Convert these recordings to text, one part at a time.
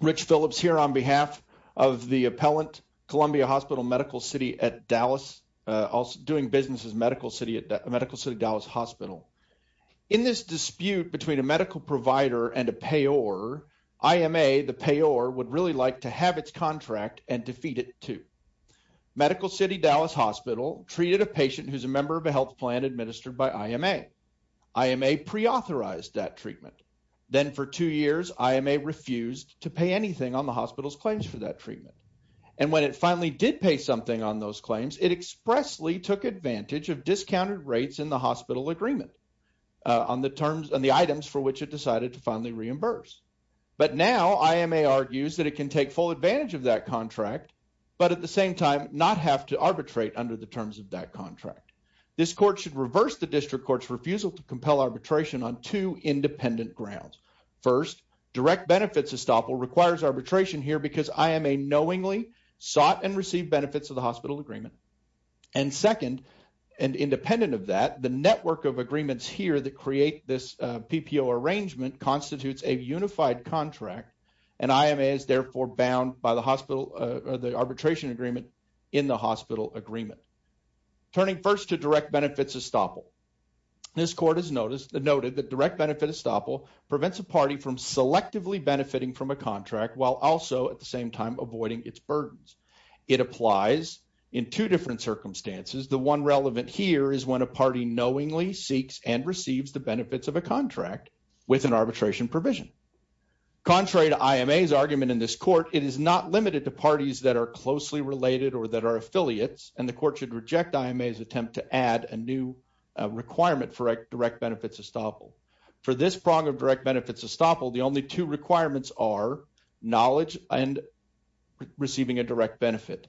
Rich Phillips here on behalf of the appellant, Columbia Hospital Medical City at Dallas, doing business as Medical City Dallas Hospital. In this dispute between a medical provider and a payor, IMA, the payor, would really like to have its contract and defeat it too. Medical City Dallas Hospital treated a patient who's a member of a health plan administered by the hospital's claims for that treatment. And when it finally did pay something on those claims, it expressly took advantage of discounted rates in the hospital agreement on the items for which it decided to finally reimburse. But now, IMA argues that it can take full advantage of that contract, but at the same time, not have to arbitrate under the terms of that contract. This court should reverse the district court's refusal to compel arbitration on two because IMA knowingly sought and received benefits of the hospital agreement. And second, and independent of that, the network of agreements here that create this PPO arrangement constitutes a unified contract, and IMA is therefore bound by the hospital, the arbitration agreement in the hospital agreement. Turning first to direct benefits estoppel, this court has noted that direct benefit estoppel prevents a party from selectively benefiting from a contract while also at the same time avoiding its burdens. It applies in two different circumstances. The one relevant here is when a party knowingly seeks and receives the benefits of a contract with an arbitration provision. Contrary to IMA's argument in this court, it is not limited to parties that are closely related or that are affiliates, and the court should reject IMA's attempt to add a new requirement for direct benefits estoppel. For this prong of direct benefits estoppel, the only two requirements are knowledge and receiving a direct benefit.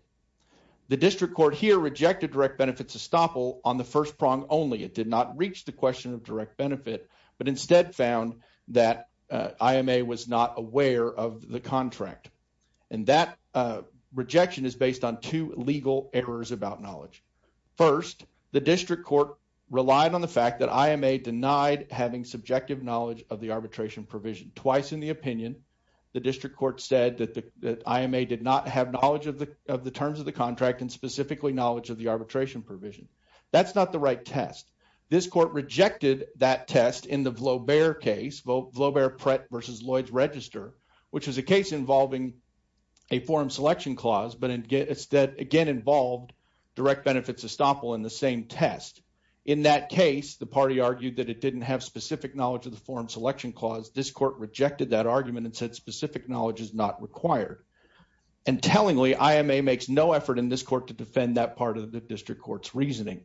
The district court here rejected direct benefits estoppel on the first prong only. It did not reach the question of direct benefit, but instead found that IMA was not aware of the contract, and that rejection is based on two legal errors about knowledge. First, the district court relied on the fact that IMA denied having subjective knowledge of the arbitration provision. Twice in the opinion, the district court said that IMA did not have knowledge of the terms of the contract and specifically knowledge of the arbitration provision. That's not the right test. This court rejected that test in the Vlaubert case, Vlaubert-Prett v. Lloyds Register, which is a case involving a forum selection clause but again involved direct benefits estoppel in the same test. In that case, the party argued that it didn't have specific knowledge of the forum selection clause. This court rejected that argument and said specific knowledge is not required. And tellingly, IMA makes no effort in this court to defend that part of the district court's reasoning.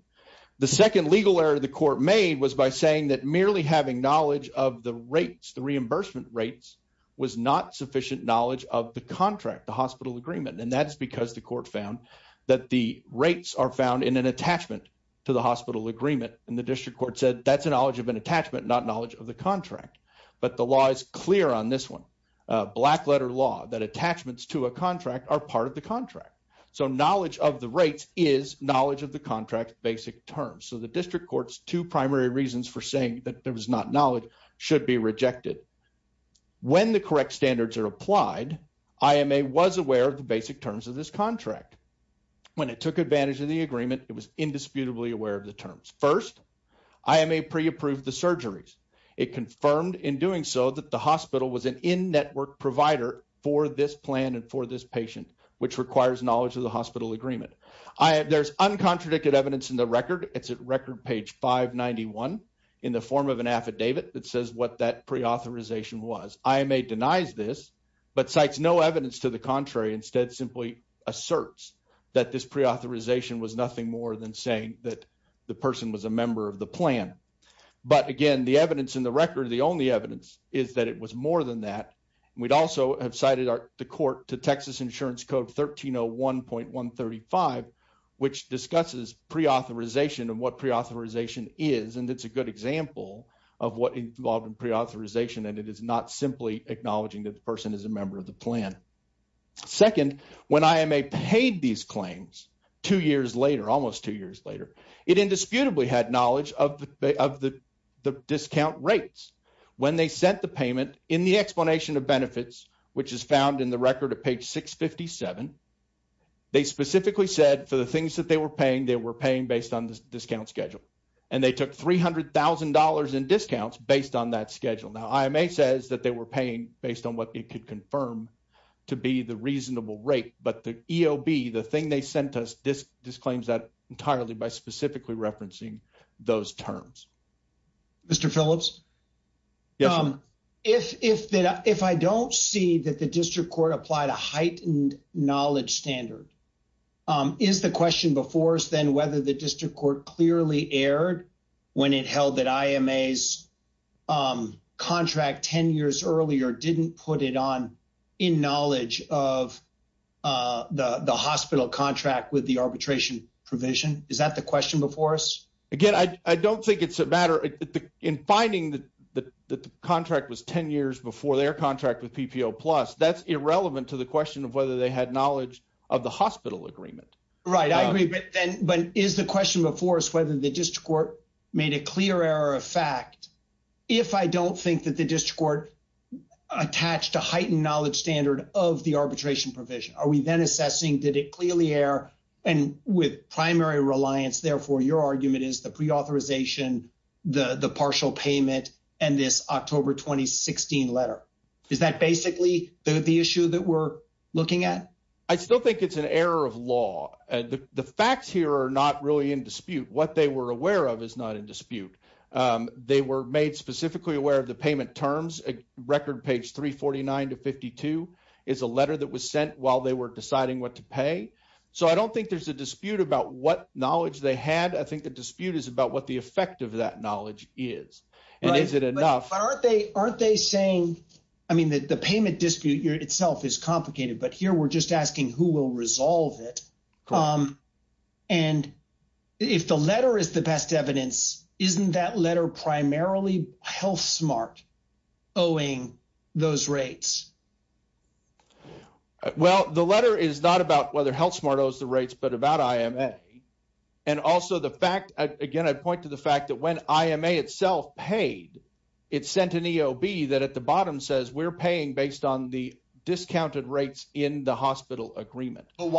The second legal error the court made was by saying that merely having knowledge of the rates, the reimbursement rates, was not sufficient knowledge of the contract, the hospital agreement. And that's because the court found that the rates are found in an attachment to the hospital agreement and the district court said that's a knowledge of an attachment, not knowledge of the contract. But the law is clear on this one, black letter law, that attachments to a contract are part of the contract. So knowledge of the rates is knowledge of the contract basic terms. So the district court's two primary reasons for saying that there was not knowledge should be basic terms of this contract. When it took advantage of the agreement, it was indisputably aware of the terms. First, IMA pre-approved the surgeries. It confirmed in doing so that the hospital was an in-network provider for this plan and for this patient, which requires knowledge of the hospital agreement. There's uncontradicted evidence in the record. It's at record page 591 in the form of an affidavit that says what that pre-authorization was. IMA denies this but cites no evidence to the contrary. Instead, simply asserts that this pre-authorization was nothing more than saying that the person was a member of the plan. But again, the evidence in the record, the only evidence is that it was more than that. We'd also have cited the court to Texas Insurance Code 1301.135, which discusses pre-authorization and what pre-authorization is. And it's a good example of what involved in pre-authorization and it is not simply acknowledging that the person is a member of the plan. Second, when IMA paid these claims, two years later, almost two years later, it indisputably had knowledge of the discount rates. When they sent the payment in the explanation of benefits, which is found in the record at page 657, they specifically said for the things that they were paying, they were paying based on the discount schedule. And they took $300,000 in discounts based on that schedule. Now, IMA says that they were paying based on what it could confirm to be the reasonable rate, but the EOB, the thing they sent us, disclaims that entirely by specifically referencing those terms. Mr. Phillips? Yes, sir. If I don't see that the district court applied a heightened knowledge standard, is the question before us then whether the district court clearly erred when it held that IMA's contract 10 years earlier didn't put it on in knowledge of the hospital contract with the arbitration provision? Is that the question before us? Again, I don't think it's a matter in finding that the contract was 10 years before their contract with PPO Plus. That's irrelevant to the question of whether they had knowledge of the hospital agreement. Right. I agree. But is the question before us whether the district court made a clear error of fact if I don't think that the district court attached a heightened knowledge standard of the arbitration provision? Are we then assessing did it clearly err and with primary reliance, therefore, your argument is the pre-authorization, the partial payment, and this October 2016 letter? Is that basically the issue that we're looking at? I still think it's an error of law. The facts here are not really in dispute. What they were aware of is not in dispute. They were made specifically aware of the payment terms. Record page 349 to 52 is a letter that was sent while they were deciding what to pay. So I don't think there's a dispute about what knowledge they had. I think the dispute is about what the effect of that knowledge is. And is it enough? But aren't they saying, I mean, the payment dispute itself is complicated, but here we're just asking who will resolve it. And if the letter is the best evidence, isn't that letter primarily HealthSmart owing those rates? Well, the letter is not about whether HealthSmart owes the rates, but about IMA. And also the fact, again, I'd point to the fact that when IMA itself paid, it sent an EOB that the bottom says we're paying based on the discounted rates in the hospital agreement. I'd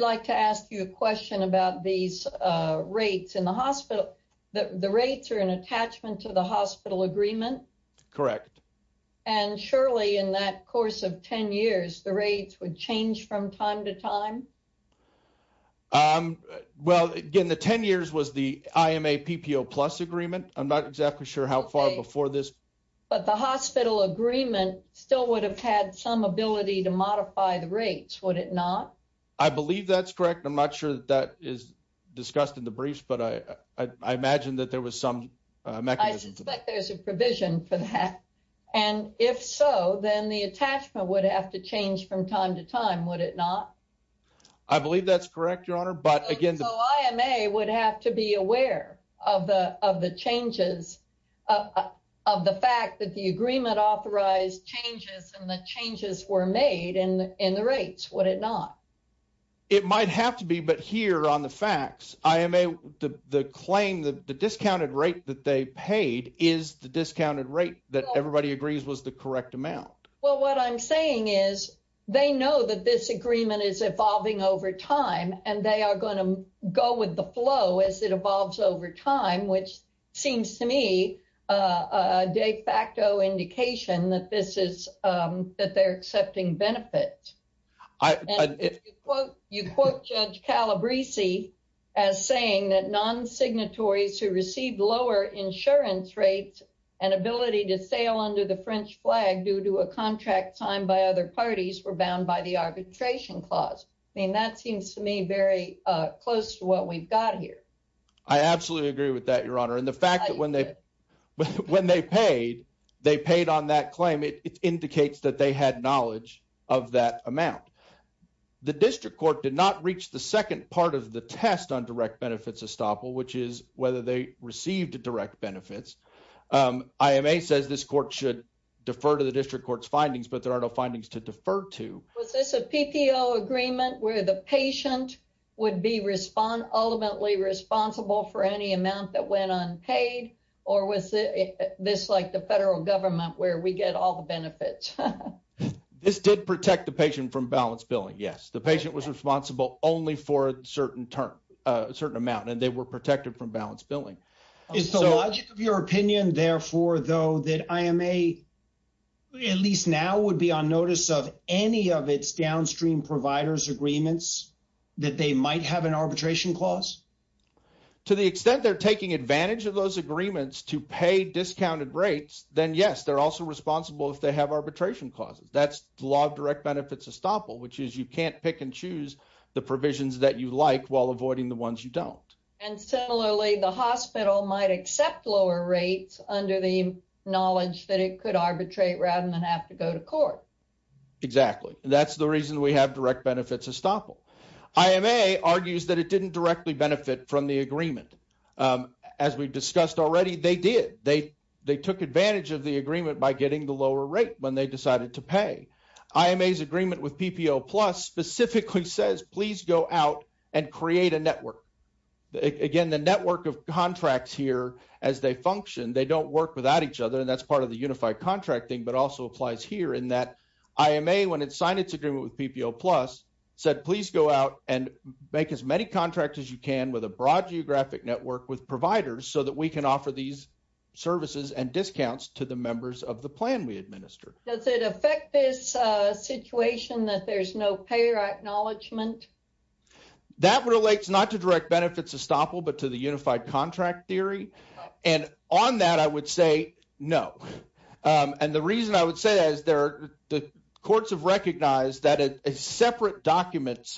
like to ask you a question about these rates in the hospital. The rates are an attachment to the hospital agreement. Correct. And surely in that course of 10 years, the rates would change from time to time. Well, again, the 10 years was the IMA PPO plus agreement. I'm not exactly sure how far before this. But the hospital agreement still would have had some ability to modify the rates, would it not? I believe that's correct. I'm not sure that is discussed in the briefs, but I imagine that there was some mechanism. I suspect there's a provision for that. And if so, then the attachment would have to change from time to time, would it not? I believe that's correct, Your Honor. So IMA would have to be aware of the changes, of the fact that the agreement authorized changes and the changes were made in the rates, would it not? It might have to be, but here on the facts, the claim, the discounted rate that they paid is the discounted rate that everybody agrees was the correct amount. Well, what I'm saying is they know that this agreement is evolving over time and they are going to go with the flow as it evolves over time, which seems to me a de facto indication that this is, that they're accepting benefits. You quote Judge Calabrese as saying that non-signatories who receive lower insurance rates and ability to sail under the French flag due to a contract signed by other parties were bound by the arbitration clause. I mean, that seems to me very close to what we've got here. I absolutely agree with that, Your Honor. And the fact that when they paid, they paid on that claim, it indicates that they had knowledge of that amount. The district court did not reach the second part of the test on direct benefits estoppel, which is whether they received direct benefits. IMA says this court should defer to the district court's findings, but there are no findings to defer to. Was this a PPO agreement where the patient would be ultimately responsible for any amount that went unpaid or was this like the federal government where we get all the benefits? This did protect the patient from balanced billing. Yes. The patient was responsible only for a certain amount and they were protected from balanced billing. Is the logic of your opinion, therefore, though, that IMA, at least now, would be on notice of any of its downstream providers' agreements that they might have an arbitration clause? To the extent they're taking advantage of those agreements to pay discounted rates, then yes, they're also responsible if they have arbitration clauses. That's law of direct benefits estoppel, which is you can't pick and choose the provisions that you like while avoiding the ones you don't. Similarly, the hospital might accept lower rates under the knowledge that it could arbitrate rather than have to go to court. Exactly. That's the reason we have direct benefits estoppel. IMA argues that it didn't directly benefit from the agreement. As we've discussed already, they did. They took advantage of the agreement by getting the lower rate when they decided to pay. IMA's agreement with PPO Plus specifically says, please go out and create a network. Again, the network of contracts here, as they function, they don't work without each other. That's part of the unified contracting, but also applies here in that IMA, when it signed its agreement with PPO Plus, said, please go out and make as many contracts as you can with a broad geographic network with providers so that we can offer these services and discounts to the members of the plan we administer. Does it affect this situation that there's no payer acknowledgement? That relates not to direct benefits estoppel, but to the unified contract theory. On that, I would say no. The reason I would say that is the courts have recognized that a separate document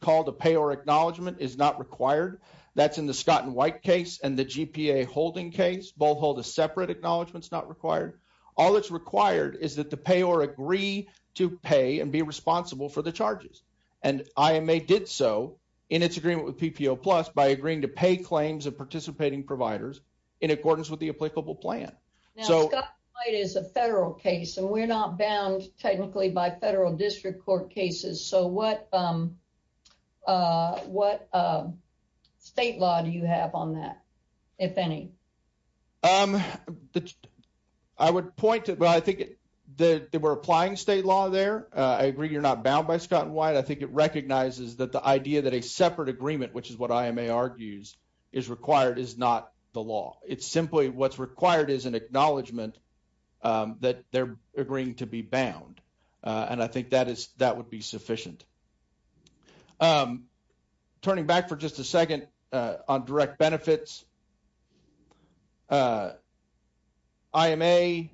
called a payer acknowledgement is not required. That's in the Scott and White case and the GPA holding case. Both hold a separate acknowledgement is not required. All that's required is that the payer agree to pay and be responsible for the charges. IMA did so in its agreement with PPO Plus by agreeing to pay claims of participating providers in accordance with the applicable plan. Scott and White is a federal case and we're not bound technically by federal district court cases. What state law do you have on that, if any? I would point to, well, I think that we're applying state law there. I agree you're not bound by Scott and White. I think it recognizes that the idea that a separate agreement, which is what IMA argues is required, is not the law. It's simply what's required is an acknowledgement that they're agreeing to be bound. I think that would be the case. IMA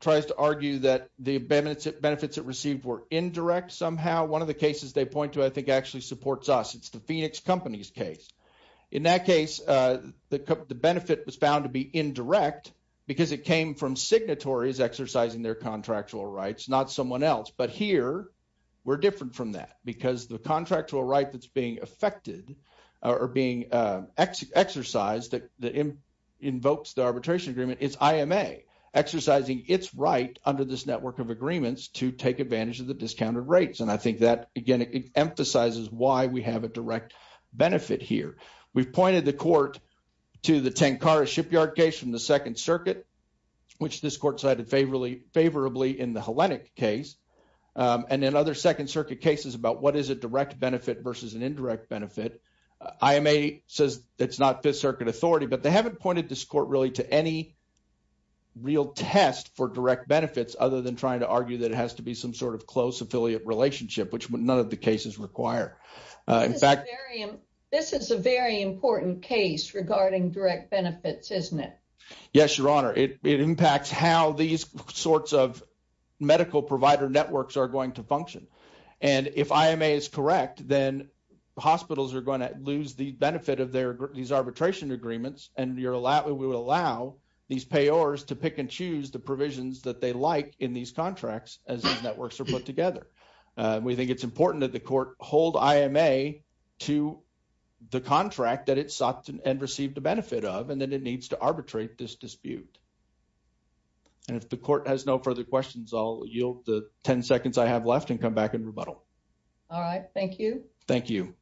tries to argue that the benefits it received were indirect somehow. One of the cases they point to, I think, actually supports us. It's the Phoenix Company's case. In that case, the benefit was found to be indirect because it came from signatories exercising their contractual rights, not someone else. But here, we're different from that because the exercise that invokes the arbitration agreement is IMA exercising its right under this network of agreements to take advantage of the discounted rates. I think that, again, it emphasizes why we have a direct benefit here. We've pointed the court to the Tankara shipyard case from the Second Circuit, which this court cited favorably in the Hellenic case. In other Second Circuit cases about what is a direct benefit versus an indirect benefit, IMA says it's not Fifth Circuit authority, but they haven't pointed this court really to any real test for direct benefits, other than trying to argue that it has to be some sort of close affiliate relationship, which none of the cases require. In fact- This is a very important case regarding direct benefits, isn't it? Yes, Your Honor. It impacts how these sorts of medical provider networks are going to operate. If IMA is correct, then hospitals are going to lose the benefit of these arbitration agreements, and we would allow these payors to pick and choose the provisions that they like in these contracts as these networks are put together. We think it's important that the court hold IMA to the contract that it sought and received the benefit of, and that it needs to arbitrate this dispute. If the court has no further questions, I'll yield the 10 seconds I have left and come back and rebuttal. All right. Thank you. Thank you.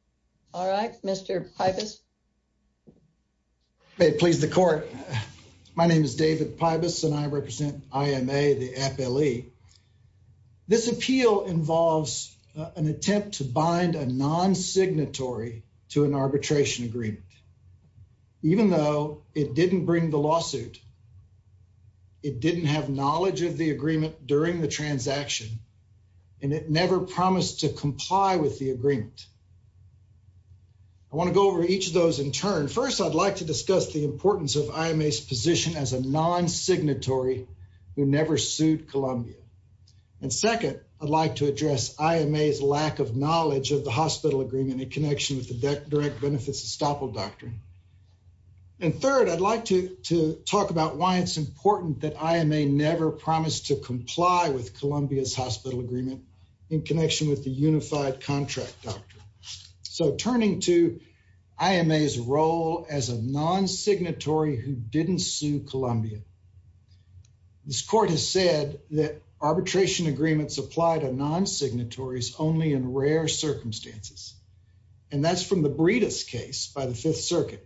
All right, Mr. Pibus. May it please the court. My name is David Pibus, and I represent IMA, the appellee. This appeal involves an attempt to bind a non-signatory to an arbitration agreement. Even though it didn't bring the lawsuit, it didn't have knowledge of the agreement during the transaction, and it never promised to comply with the agreement. I want to go over each of those in turn. First, I'd like to discuss the importance of IMA's position as a non-signatory who never sued Columbia. And second, I'd like to address IMA's lack of knowledge of the hospital agreement in connection with the direct benefits estoppel doctrine. And third, I'd like to talk about why it's important that IMA never promised to comply with Columbia's hospital agreement in connection with the unified contract doctrine. So turning to IMA's role as a non-signatory who didn't sue Columbia, this court has said that arbitration agreements apply to non-signatories only in rare circumstances. And that's from the Breedis case by the Fifth Circuit.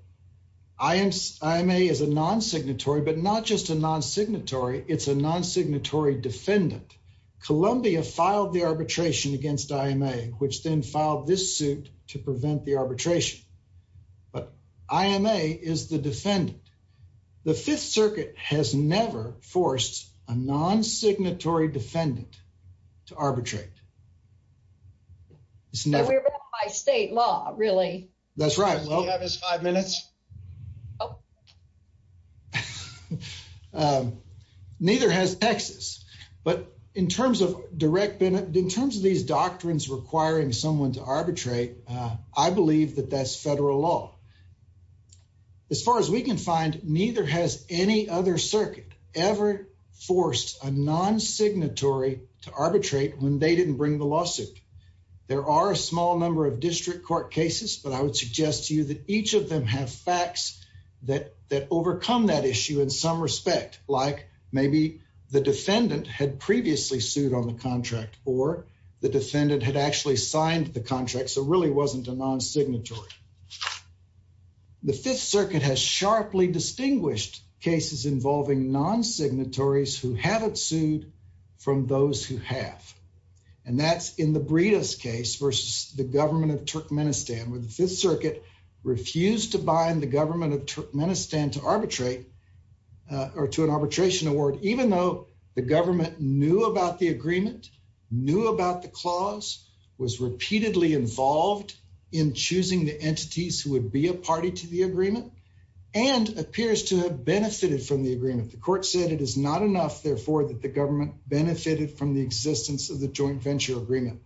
IMA is a non-signatory, but not just a non-signatory, it's a non-signatory defendant. Columbia filed the arbitration against IMA, which then filed this suit to prevent the arbitration. But IMA is the defendant. The Fifth Circuit has never forced a non-signatory defendant to arbitrate. It's never- By state law, really. That's right. Does he have his five minutes? Neither has Texas. But in terms of direct benefit, in terms of these doctrines requiring someone to arbitrate, I believe that that's federal law. As far as we can find, neither has any other circuit ever forced a non-signatory to arbitrate when they didn't bring the lawsuit. There are a small number of district court cases, but I would suggest to you that each of them have facts that overcome that issue in some respect, like maybe the defendant had previously sued on the contract or the defendant had actually signed the contract, so it really wasn't a non-signatory. The Fifth Circuit has sharply distinguished cases involving non-signatories who haven't sued from those who have, and that's in the Breedis case versus the government of Turkmenistan, where the Fifth Circuit refused to bind the government of Turkmenistan to arbitrate or to an arbitration award, even though the government knew about the agreement, knew about the clause, was repeatedly involved in choosing the entities who would be a party to the agreement, and appears to have benefited from the agreement. The court said it is not enough, therefore, that the government benefited from the existence of the joint venture agreement.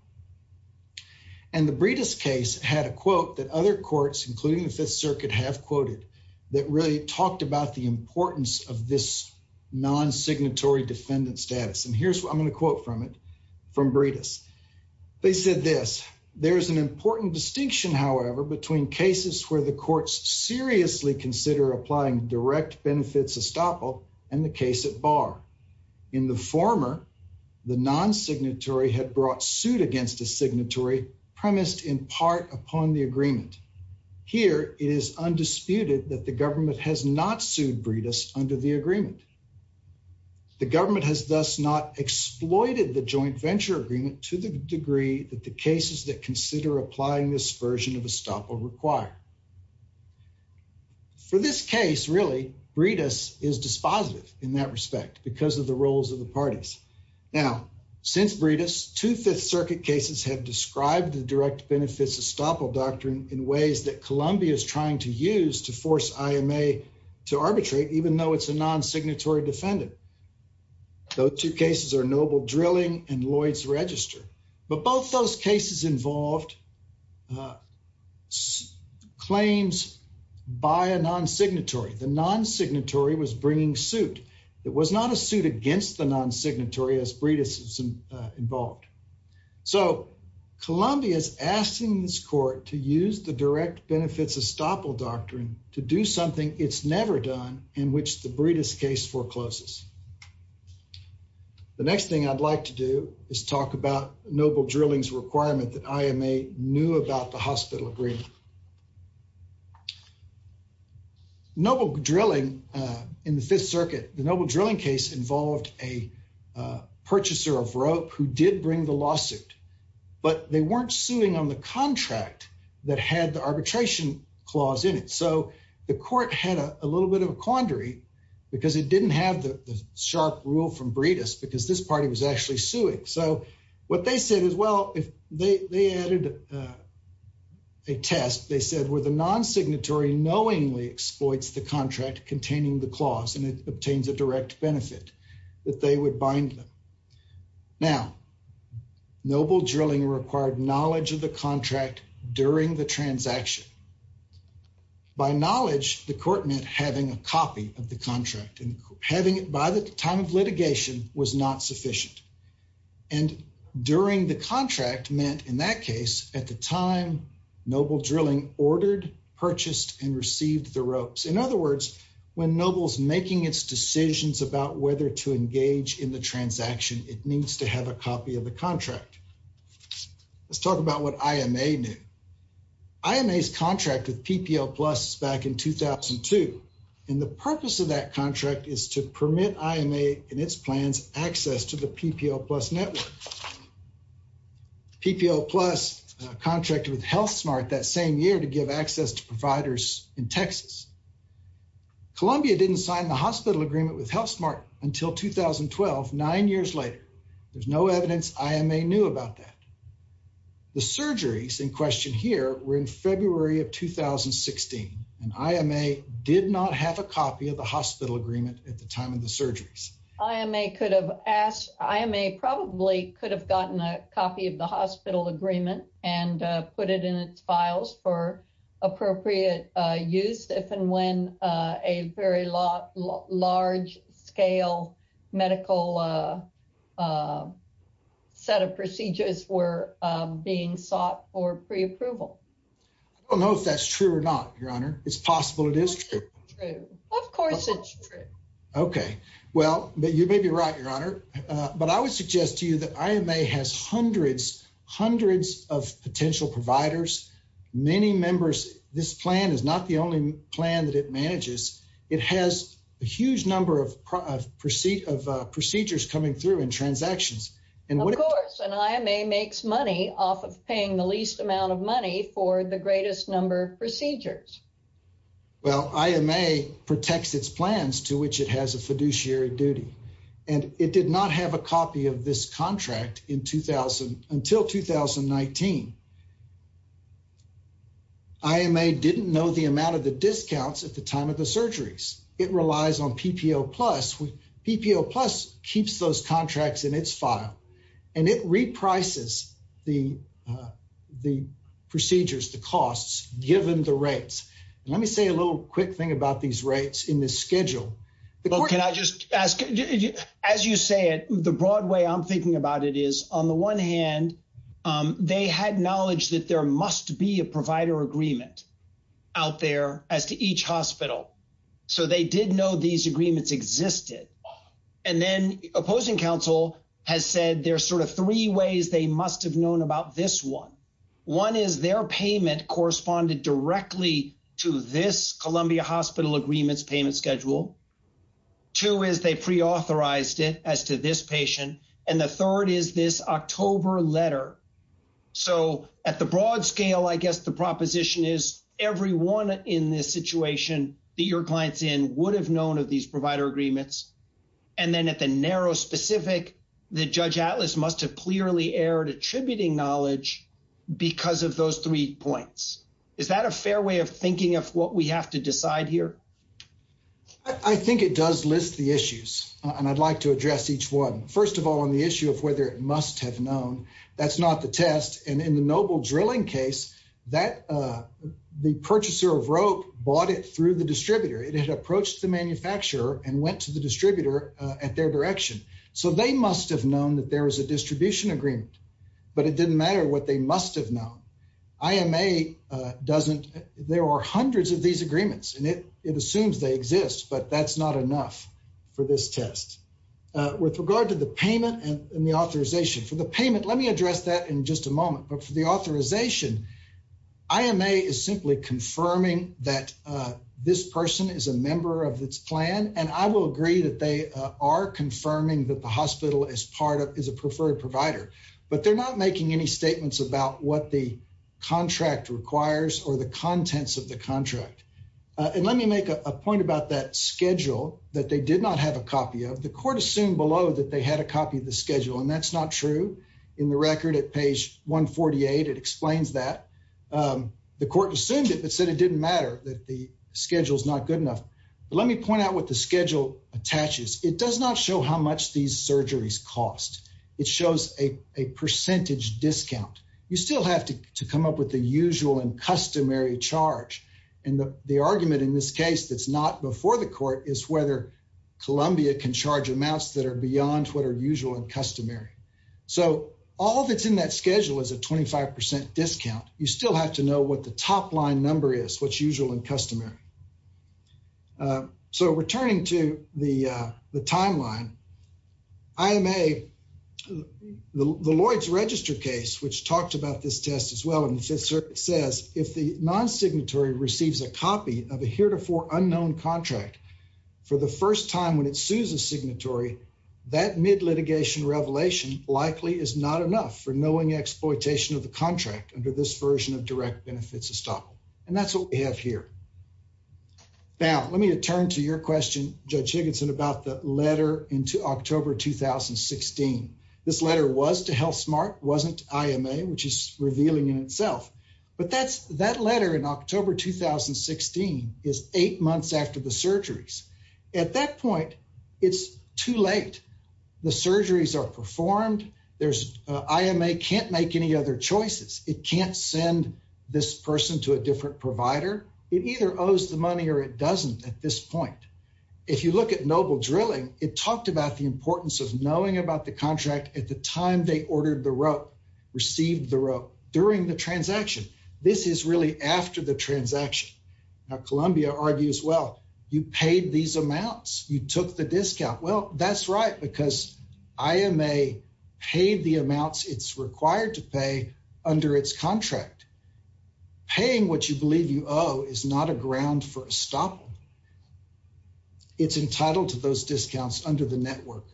And the Breedis case had a quote that other courts, including the Fifth Circuit, have quoted that really talked about the importance of this non-signatory defendant status. And here's what I'm going to quote from it, from Breedis. They said this, there's an important distinction, however, between cases where the courts seriously consider applying direct benefits estoppel and the case at bar. In the former, the non-signatory had brought suit against a signatory premised in part upon the agreement. Here, it is undisputed that the government has not sued Breedis under the agreement. The government has thus not exploited the joint venture agreement to the degree that the cases that consider applying this version of estoppel require. For this case, really, Breedis is dispositive in that respect because of the roles of the parties. Now, since Breedis, two Fifth Circuit cases have described the direct benefits estoppel doctrine in ways that Columbia is trying to use to force IMA to arbitrate, even though it's a non-signatory defendant. Those two cases are Noble Drilling and Lloyd's Register. But both those cases involved claims by a non-signatory. The non-signatory was bringing suit. It was not a suit against the non-signatory as Breedis is involved. So Columbia is asking this court to use the direct benefits estoppel doctrine to do something it's never done in which the Breedis case forecloses. The next thing I'd like to do is talk about Noble Drilling's requirement that IMA knew about the hospital agreement. Noble Drilling, in the Fifth Circuit, the Noble Drilling case involved a purchaser of rope who did bring the lawsuit, but they weren't suing on the contract that had the arbitration clause in it. So the court had a little bit of a quandary because it didn't have the sharp rule from Breedis because this party was actually suing. So what they said is, well, if they added a test, they said, well, the non-signatory knowingly exploits the contract containing the clause and it obtains a direct benefit that they would bind them. Now, Noble Drilling required knowledge of the contract during the transaction. By knowledge, the court meant having a copy of the contract and having it by the time of litigation was not sufficient. And during the contract meant, in that case, at the time, Noble Drilling ordered, purchased, and received the ropes. In other words, when Noble's making its decisions about whether to engage in the transaction, it needs to have a copy of the contract. Let's talk about what IMA knew. IMA's contract with PPL Plus is back in 2002. And the purpose of that contract is to permit IMA and its plans access to the PPL Plus network. PPL Plus contracted with HealthSmart that same year to give access to providers in Texas. Columbia didn't sign the hospital agreement with HealthSmart until 2012, nine years later. There's no evidence IMA knew about that. The surgeries in question here were in February of 2016, and IMA did not have a copy of the hospital agreement at the time of the ask. IMA probably could have gotten a copy of the hospital agreement and put it in its files for appropriate use if and when a very large-scale medical set of procedures were being sought for pre-approval. I don't know if that's true or not, Your Honor. It's possible it is true. Of course it's true. Okay. Well, you may be right, Your Honor. But I would suggest to you that IMA has hundreds, hundreds of potential providers, many members. This plan is not the only plan that it manages. It has a huge number of procedures coming through in transactions. Of course. And IMA makes money off of paying the least amount of money for the greatest number procedures. Well, IMA protects its plans to which it has a fiduciary duty, and it did not have a copy of this contract until 2019. IMA didn't know the amount of the discounts at the time of the surgeries. It relies on PPO Plus. PPO Plus keeps those contracts in its file, and it reprices the procedures, the costs, given the rates. Let me say a little quick thing about these rates in this schedule. Can I just ask, as you say it, the broad way I'm thinking about it is, on the one hand, they had knowledge that there must be a provider agreement out there as to each hospital. So they did know these agreements existed. And then opposing counsel has said there are sort of three ways they must have known about this one. One is their payment corresponded directly to this Columbia Hospital agreements payment schedule. Two is they preauthorized it as to this patient. And the third is this October letter. So at the broad scale, I guess the situation that your clients in would have known of these provider agreements. And then at the narrow specific, the Judge Atlas must have clearly erred attributing knowledge because of those three points. Is that a fair way of thinking of what we have to decide here? I think it does list the issues, and I'd like to address each one. First of all, on the issue of whether it must have known, that's not the test. And in the Noble drilling case, that the purchaser of rope bought it through the distributor. It had approached the manufacturer and went to the distributor at their direction. So they must have known that there was a distribution agreement, but it didn't matter what they must have known. IMA doesn't. There are hundreds of these agreements, and it assumes they exist, but that's not enough for this test. With regard to the payment and the authorization for the payment, let me address that in just a minute. IMA is simply confirming that this person is a member of its plan, and I will agree that they are confirming that the hospital is part of, is a preferred provider, but they're not making any statements about what the contract requires or the contents of the contract. And let me make a point about that schedule that they did not have a copy of. The court assumed below that they had a copy of the schedule, and that's not true. In the record at page 148, it explains that. The court assumed it, but said it didn't matter that the schedule's not good enough. But let me point out what the schedule attaches. It does not show how much these surgeries cost. It shows a percentage discount. You still have to come up with the usual and customary charge. And the argument in this case that's not before the court is whether Columbia can charge amounts that are usual and customary. So all that's in that schedule is a 25% discount. You still have to know what the top line number is, what's usual and customary. So returning to the timeline, IMA, the Lloyd's Register case, which talked about this test as well, and it says if the non-signatory receives a copy of a heretofore unknown contract for the first time when it is not enough for knowing exploitation of the contract under this version of direct benefits estoppel. And that's what we have here. Now, let me turn to your question, Judge Higginson, about the letter into October 2016. This letter was to HealthSmart, wasn't IMA, which is revealing in itself. But that letter in October 2016 is eight months after the surgeries. At that point, it's too late. The surgeries are performed. IMA can't make any other choices. It can't send this person to a different provider. It either owes the money or it doesn't at this point. If you look at Noble Drilling, it talked about the importance of knowing about the contract at the time they ordered the rope, received the rope, during the transaction. This is really after the transaction. Now, Columbia argues, well, you paid these amounts. You took the discount. Well, that's right, because IMA paid the amounts it's required to pay under its contract. Paying what you believe you owe is not a ground for estoppel. It's entitled to those discounts under the network.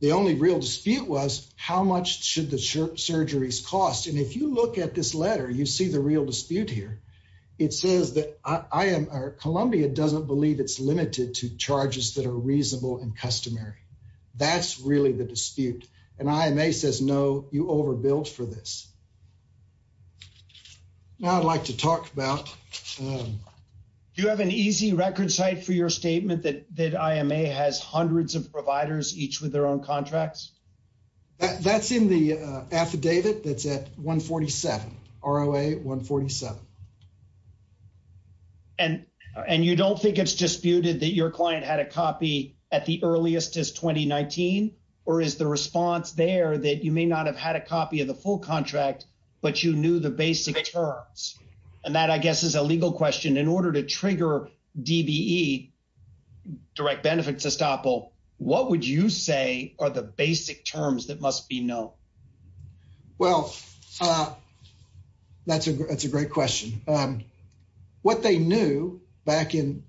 The only real dispute was how much should the surgeries cost. And if you at this letter, you see the real dispute here. It says that Columbia doesn't believe it's limited to charges that are reasonable and customary. That's really the dispute. And IMA says, no, you overbilled for this. Now, I'd like to talk about... Do you have an easy record site for your statement that IMA has hundreds of providers, each with their own contracts? That's in the affidavit that's at 147, ROA 147. And you don't think it's disputed that your client had a copy at the earliest as 2019, or is the response there that you may not have had a copy of the full contract, but you knew the basic terms? And that, I guess, is a legal question. In order to trigger DBE, direct benefits estoppel, what would you say are the basic terms that must be known? Well, that's a great question. What they knew back in,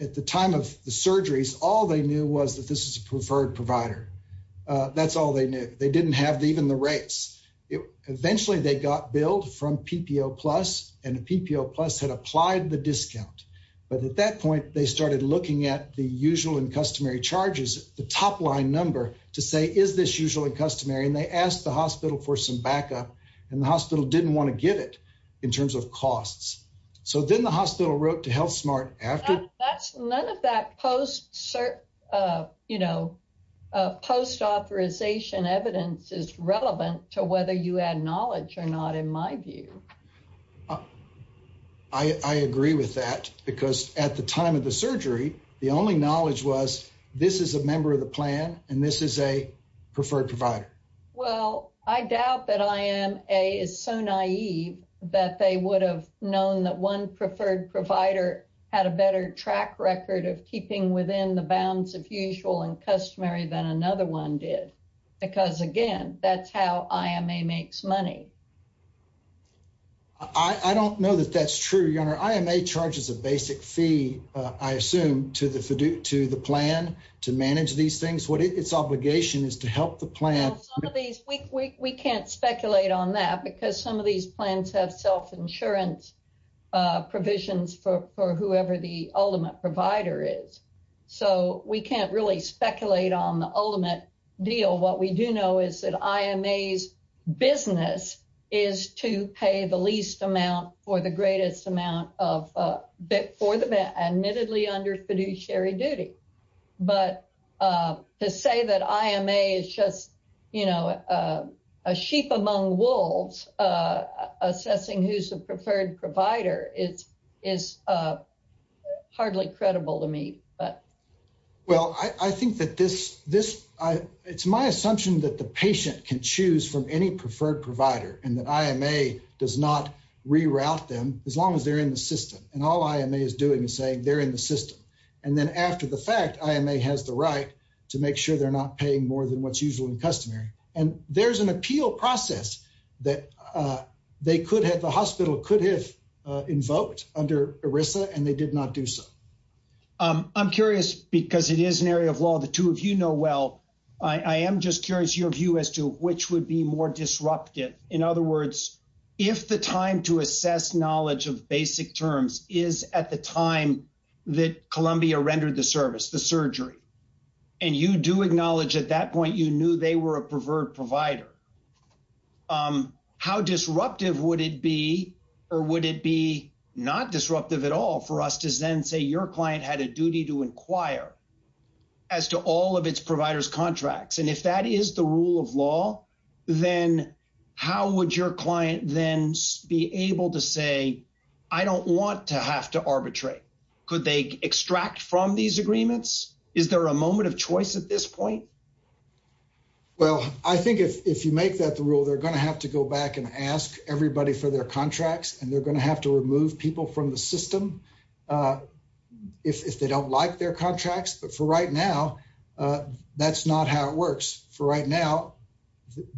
at the time of the surgeries, all they knew was that this is a preferred provider. That's all they knew. They didn't have even the rates. Eventually, they got billed from PPO Plus, and the PPO Plus had applied the discount. But at that point, they started looking at the usual and customary charges, the top line number to say, is this usually customary? And they asked the hospital for some backup and the hospital didn't want to give it in terms of costs. So then the hospital wrote to HealthSmart after... That's none of that post authorization evidence is relevant to whether you had knowledge or not, in my view. I agree with that, because at the time of the surgery, the only knowledge was, this is a member of the plan, and this is a preferred provider. Well, I doubt that IAMA is so naive that they would have known that one preferred provider had a better track record of keeping within the bounds of usual and customary than another one did. Because again, that's how IMA makes money. I don't know that that's true, Your Honor. IMA charges a basic fee, I assume, to the plan to manage these things. Its obligation is to help the plan. We can't speculate on that because some of these plans have self-insurance provisions for whoever the ultimate provider is. So we can't really speculate on the ultimate deal. What we do know is that IMA's business is to pay the least amount for the greatest amount, admittedly under fiduciary duty. But to say that IMA is just, you know, a sheep among wolves, assessing who's preferred provider is hardly credible to me. Well, I think that it's my assumption that the patient can choose from any preferred provider, and that IMA does not reroute them as long as they're in the system. And all IMA is doing is saying they're in the system. And then after the fact, IMA has the right to make sure they're not paying more than what's usual and customary. And there's an appeal process that the hospital could have invoked under ERISA, and they did not do so. I'm curious, because it is an area of law the two of you know well, I am just curious your view as to which would be more disruptive. In other words, if the time to assess knowledge of basic terms is at the time that Columbia rendered the service, the surgery, and you do acknowledge at that point you knew they were a preferred provider, how disruptive would it be? Or would it be not disruptive at all for us to then say your client had a duty to inquire as to all of its providers contracts? And if that is the rule of law, then how would your client then be able to say, I don't want to have to arbitrate? Could they extract from these agreements? Is there a moment of choice at this point? Well, I think if you make that the rule, they're going to have to go back and ask everybody for their contracts, and they're going to have to remove people from the system if they don't like their contracts. But for right now, that's not how it works. For right now,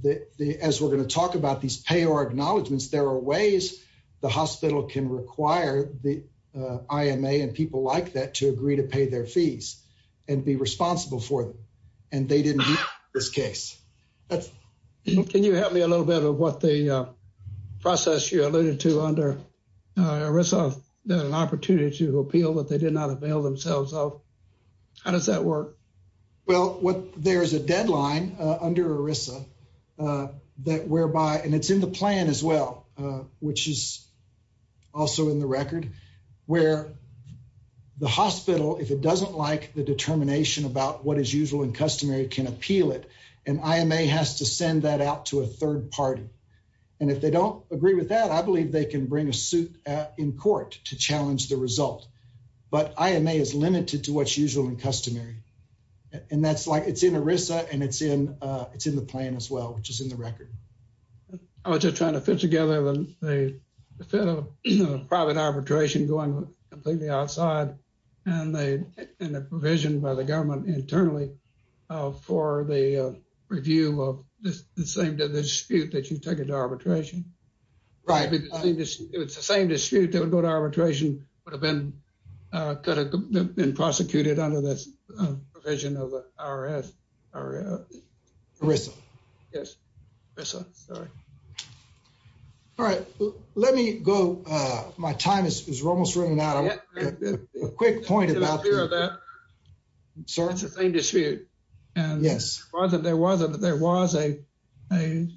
as we're going to talk about these payor acknowledgments, there are ways the hospital can require the IMA and people like that to agree to pay their fees and be responsible for them. And they didn't meet this case. Can you help me a little bit of what the process you alluded to under ERISA, the opportunity to appeal that they did not avail themselves of? How does that work? Well, there is a deadline under ERISA that whereby, and it's in the plan as well, which is also in the record, where the hospital, if it doesn't like the determination about what is usual and customary, can appeal it. And IMA has to send that out to a third party. And if they don't agree with that, I believe they can bring a suit in court to challenge the result. But IMA is limited to what's usual and customary. And that's like it's in ERISA and it's in the plan as well, which is in the record. I was just trying to fit together the private arbitration going completely outside and the provision by the government internally for the review of the same dispute that you took into arbitration. Right. It's the same dispute that would go to arbitration would have been prosecuted under this provision of the IRS. ERISA. Yes. Sorry. All right. Let me go. My time is almost running out. A quick point about that. Sorry. It's the same dispute. Yes. Whether there was a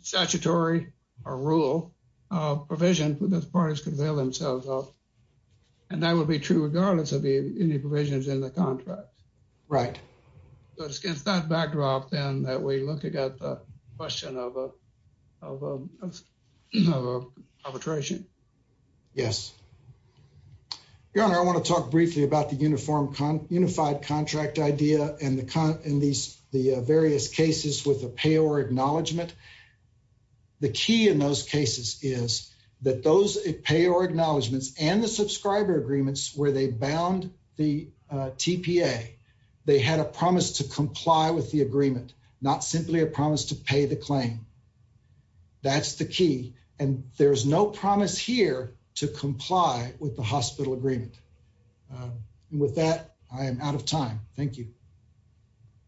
statutory or rule provision that parties could avail themselves of. And that would be true regardless of any provisions in the contract. Right. So it's against that backdrop, then, that we look at the question of arbitration. Yes. Your Honor, I want to talk briefly about the uniform, unified contract idea and the various cases with a payor acknowledgement. The key in those cases is that those payor acknowledgements and the subscriber agreements where they bound the TPA, they had a promise to comply with the agreement, not simply a promise to pay the claim. That's the key. And there's no promise here to comply with the hospital agreement. With that, I am out of time. Thank you.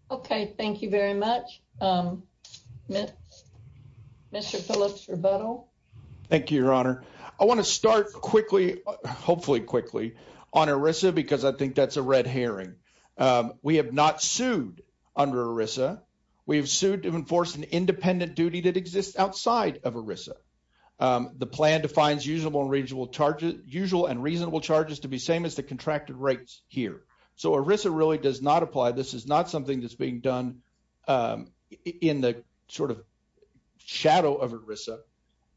Okay. Thank you very much. Mr. Phillips, rebuttal. Thank you, Your Honor. I want to start quickly, hopefully quickly, on ERISA because I think that's a red herring. We have not sued under ERISA. We have sued to enforce an independent duty that exists outside of ERISA. The plan defines usual and reasonable charges to be the same as the contracted rates here. So ERISA really does not apply. This is not something that's being done in the sort of shadow of ERISA.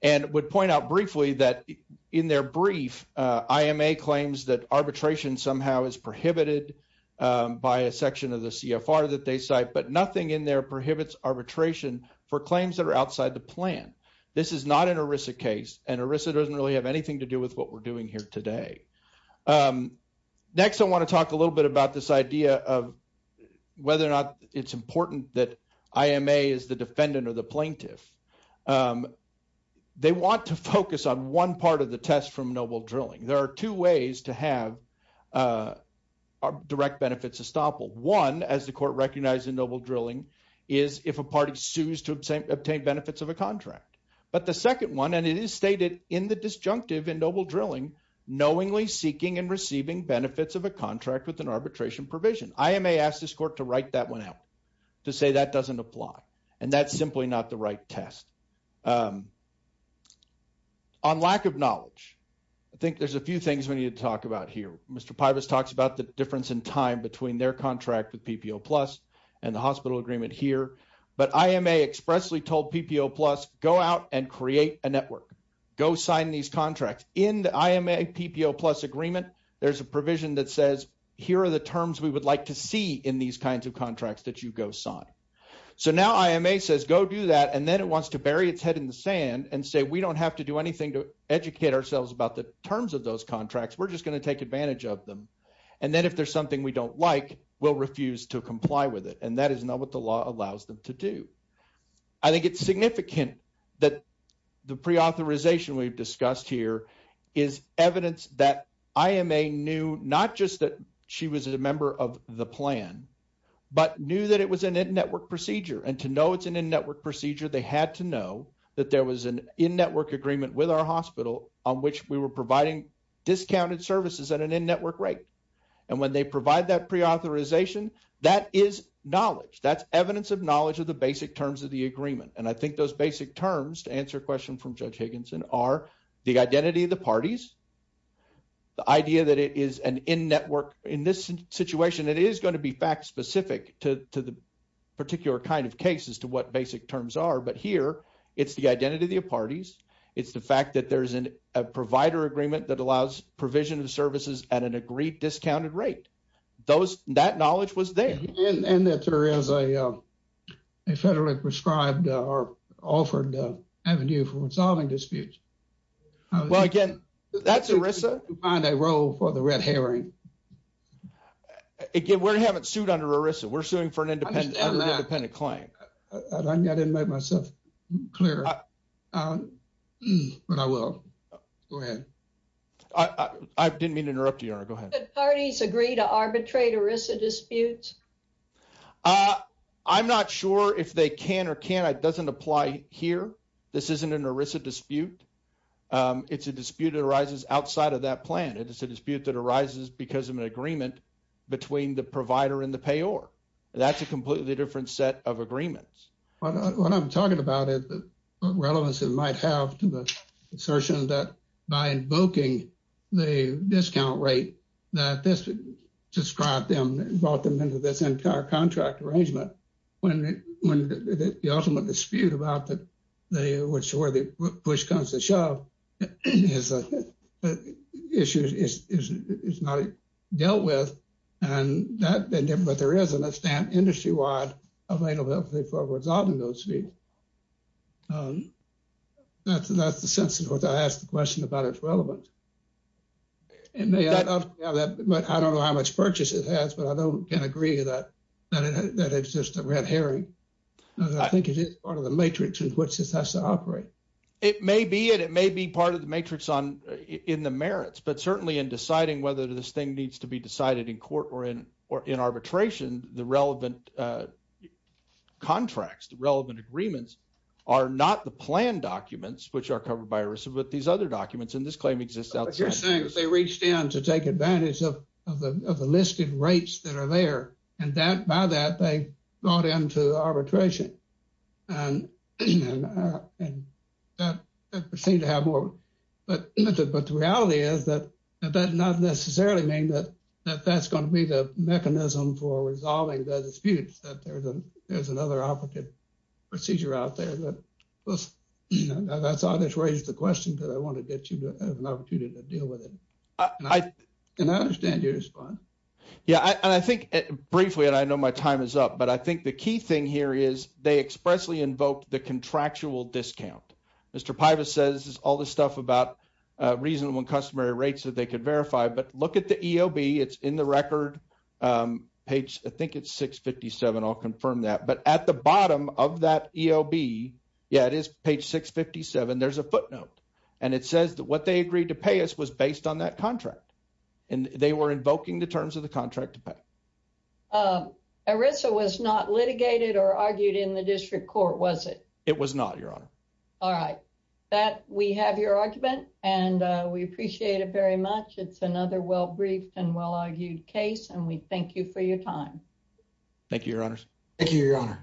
And I would point out briefly that in their brief, IMA claims that arbitration somehow is prohibited by a section of the CFR that they cite, but nothing in there prohibits arbitration for claims that are outside the plan. This is not an ERISA case, and ERISA doesn't really have anything to do with what we're doing here today. Next, I want to talk a little bit about this idea of whether or not it's important that IMA is the defendant or the plaintiff. They want to focus on one part of the test from noble drilling. There are two ways to have direct benefits estoppel. One, as the court recognized in noble drilling, is if a party sues to obtain benefits of a contract. But the second one, and it is stated in the disjunctive in noble drilling, knowingly seeking and receiving benefits of a contract with an arbitration provision. IMA asked this court to write that one out, to say that doesn't apply. And that's simply not the right test. On lack of knowledge, I think there's a few things we need to talk about here. Mr. Pivas talks about the difference in time between their contract with PPO plus and the hospital agreement here. But IMA expressly told PPO plus, go out and create a contract. In the IMA PPO plus agreement, there's a provision that says, here are the terms we would like to see in these kinds of contracts that you go sign. So now IMA says go do that. And then it wants to bury its head in the sand and say, we don't have to do anything to educate ourselves about the terms of those contracts. We're just going to take advantage of them. And then if there's something we don't like, we'll refuse to comply with it. And that is not what the law allows them to do. I think it's significant that the preauthorization we've discussed here is evidence that IMA knew not just that she was a member of the plan, but knew that it was an in-network procedure. And to know it's an in-network procedure, they had to know that there was an in-network agreement with our hospital on which we were providing discounted services at an in-network rate. And when they provide that preauthorization, that is knowledge. That's evidence of knowledge of the basic terms of the agreement. And I think those basic terms, to answer a question from Judge Higginson, are the identity of the parties, the idea that it is an in-network. In this situation, it is going to be fact-specific to the particular kind of case as to what basic terms are. But here, it's the identity of the parties. It's the fact that there's a provider agreement that allows provision of services at an agreed discounted rate. That knowledge was there. And that there is a federally prescribed or offered avenue for resolving disputes. Well, again, that's ERISA. To find a role for the red herring. Again, we haven't sued under ERISA. We're suing for an independent claim. I didn't make myself clear, but I will. Go ahead. I didn't mean to interrupt you. Go ahead. Do parties agree to arbitrate ERISA disputes? I'm not sure if they can or can't. It doesn't apply here. This isn't an ERISA dispute. It's a dispute that arises outside of that plan. It's a dispute that arises because of an agreement between the provider and the payer. That's a relevance it might have to the assertion that by invoking the discount rate that this described them, brought them into this entire contract arrangement, when the ultimate dispute about where the push comes to shove is not dealt with. But there is a stamp industry-wide availability for resolving those fees. That's the sense in which I asked the question about its relevance. And I don't know how much purchase it has, but I can agree that it's just a red herring. I think it is part of the matrix in which this has to operate. It may be, and it may be part of the matrix in the merits. But certainly in deciding whether this thing needs to be decided in court or in arbitration, the relevant contracts, the relevant agreements are not the plan documents, which are covered by ERISA, but these other documents. And this claim exists outside. You're saying that they reached in to take advantage of the listed rates that are there and that by that they brought into arbitration. But the reality is that that does not necessarily mean that that's going to be the mechanism for resolving the disputes, that there's another operative procedure out there. I just raised the question because I wanted to get you an opportunity to deal with it. And I understand your response. Yeah, and I think briefly, and I know my time is up, but I think the key thing here is they expressly invoked the contractual discount. Mr. Pivas says all this stuff about reasonable and customary rates that they could verify, but look at the EOB. It's in the record, page, I think it's 657. I'll confirm that. But at the bottom of that EOB, yeah, it is page 657. There's a footnote. And it says that what they agreed to pay us was based on that contract. And they were invoking the terms of the contract to pay. ERISA was not litigated or argued in the district court, was it? It was not, Your Honor. All right. We have your argument, and we appreciate it very much. It's another well-briefed and well-argued case, and we thank you for your time. Thank you, Your Honors. Thank you, Your Honor.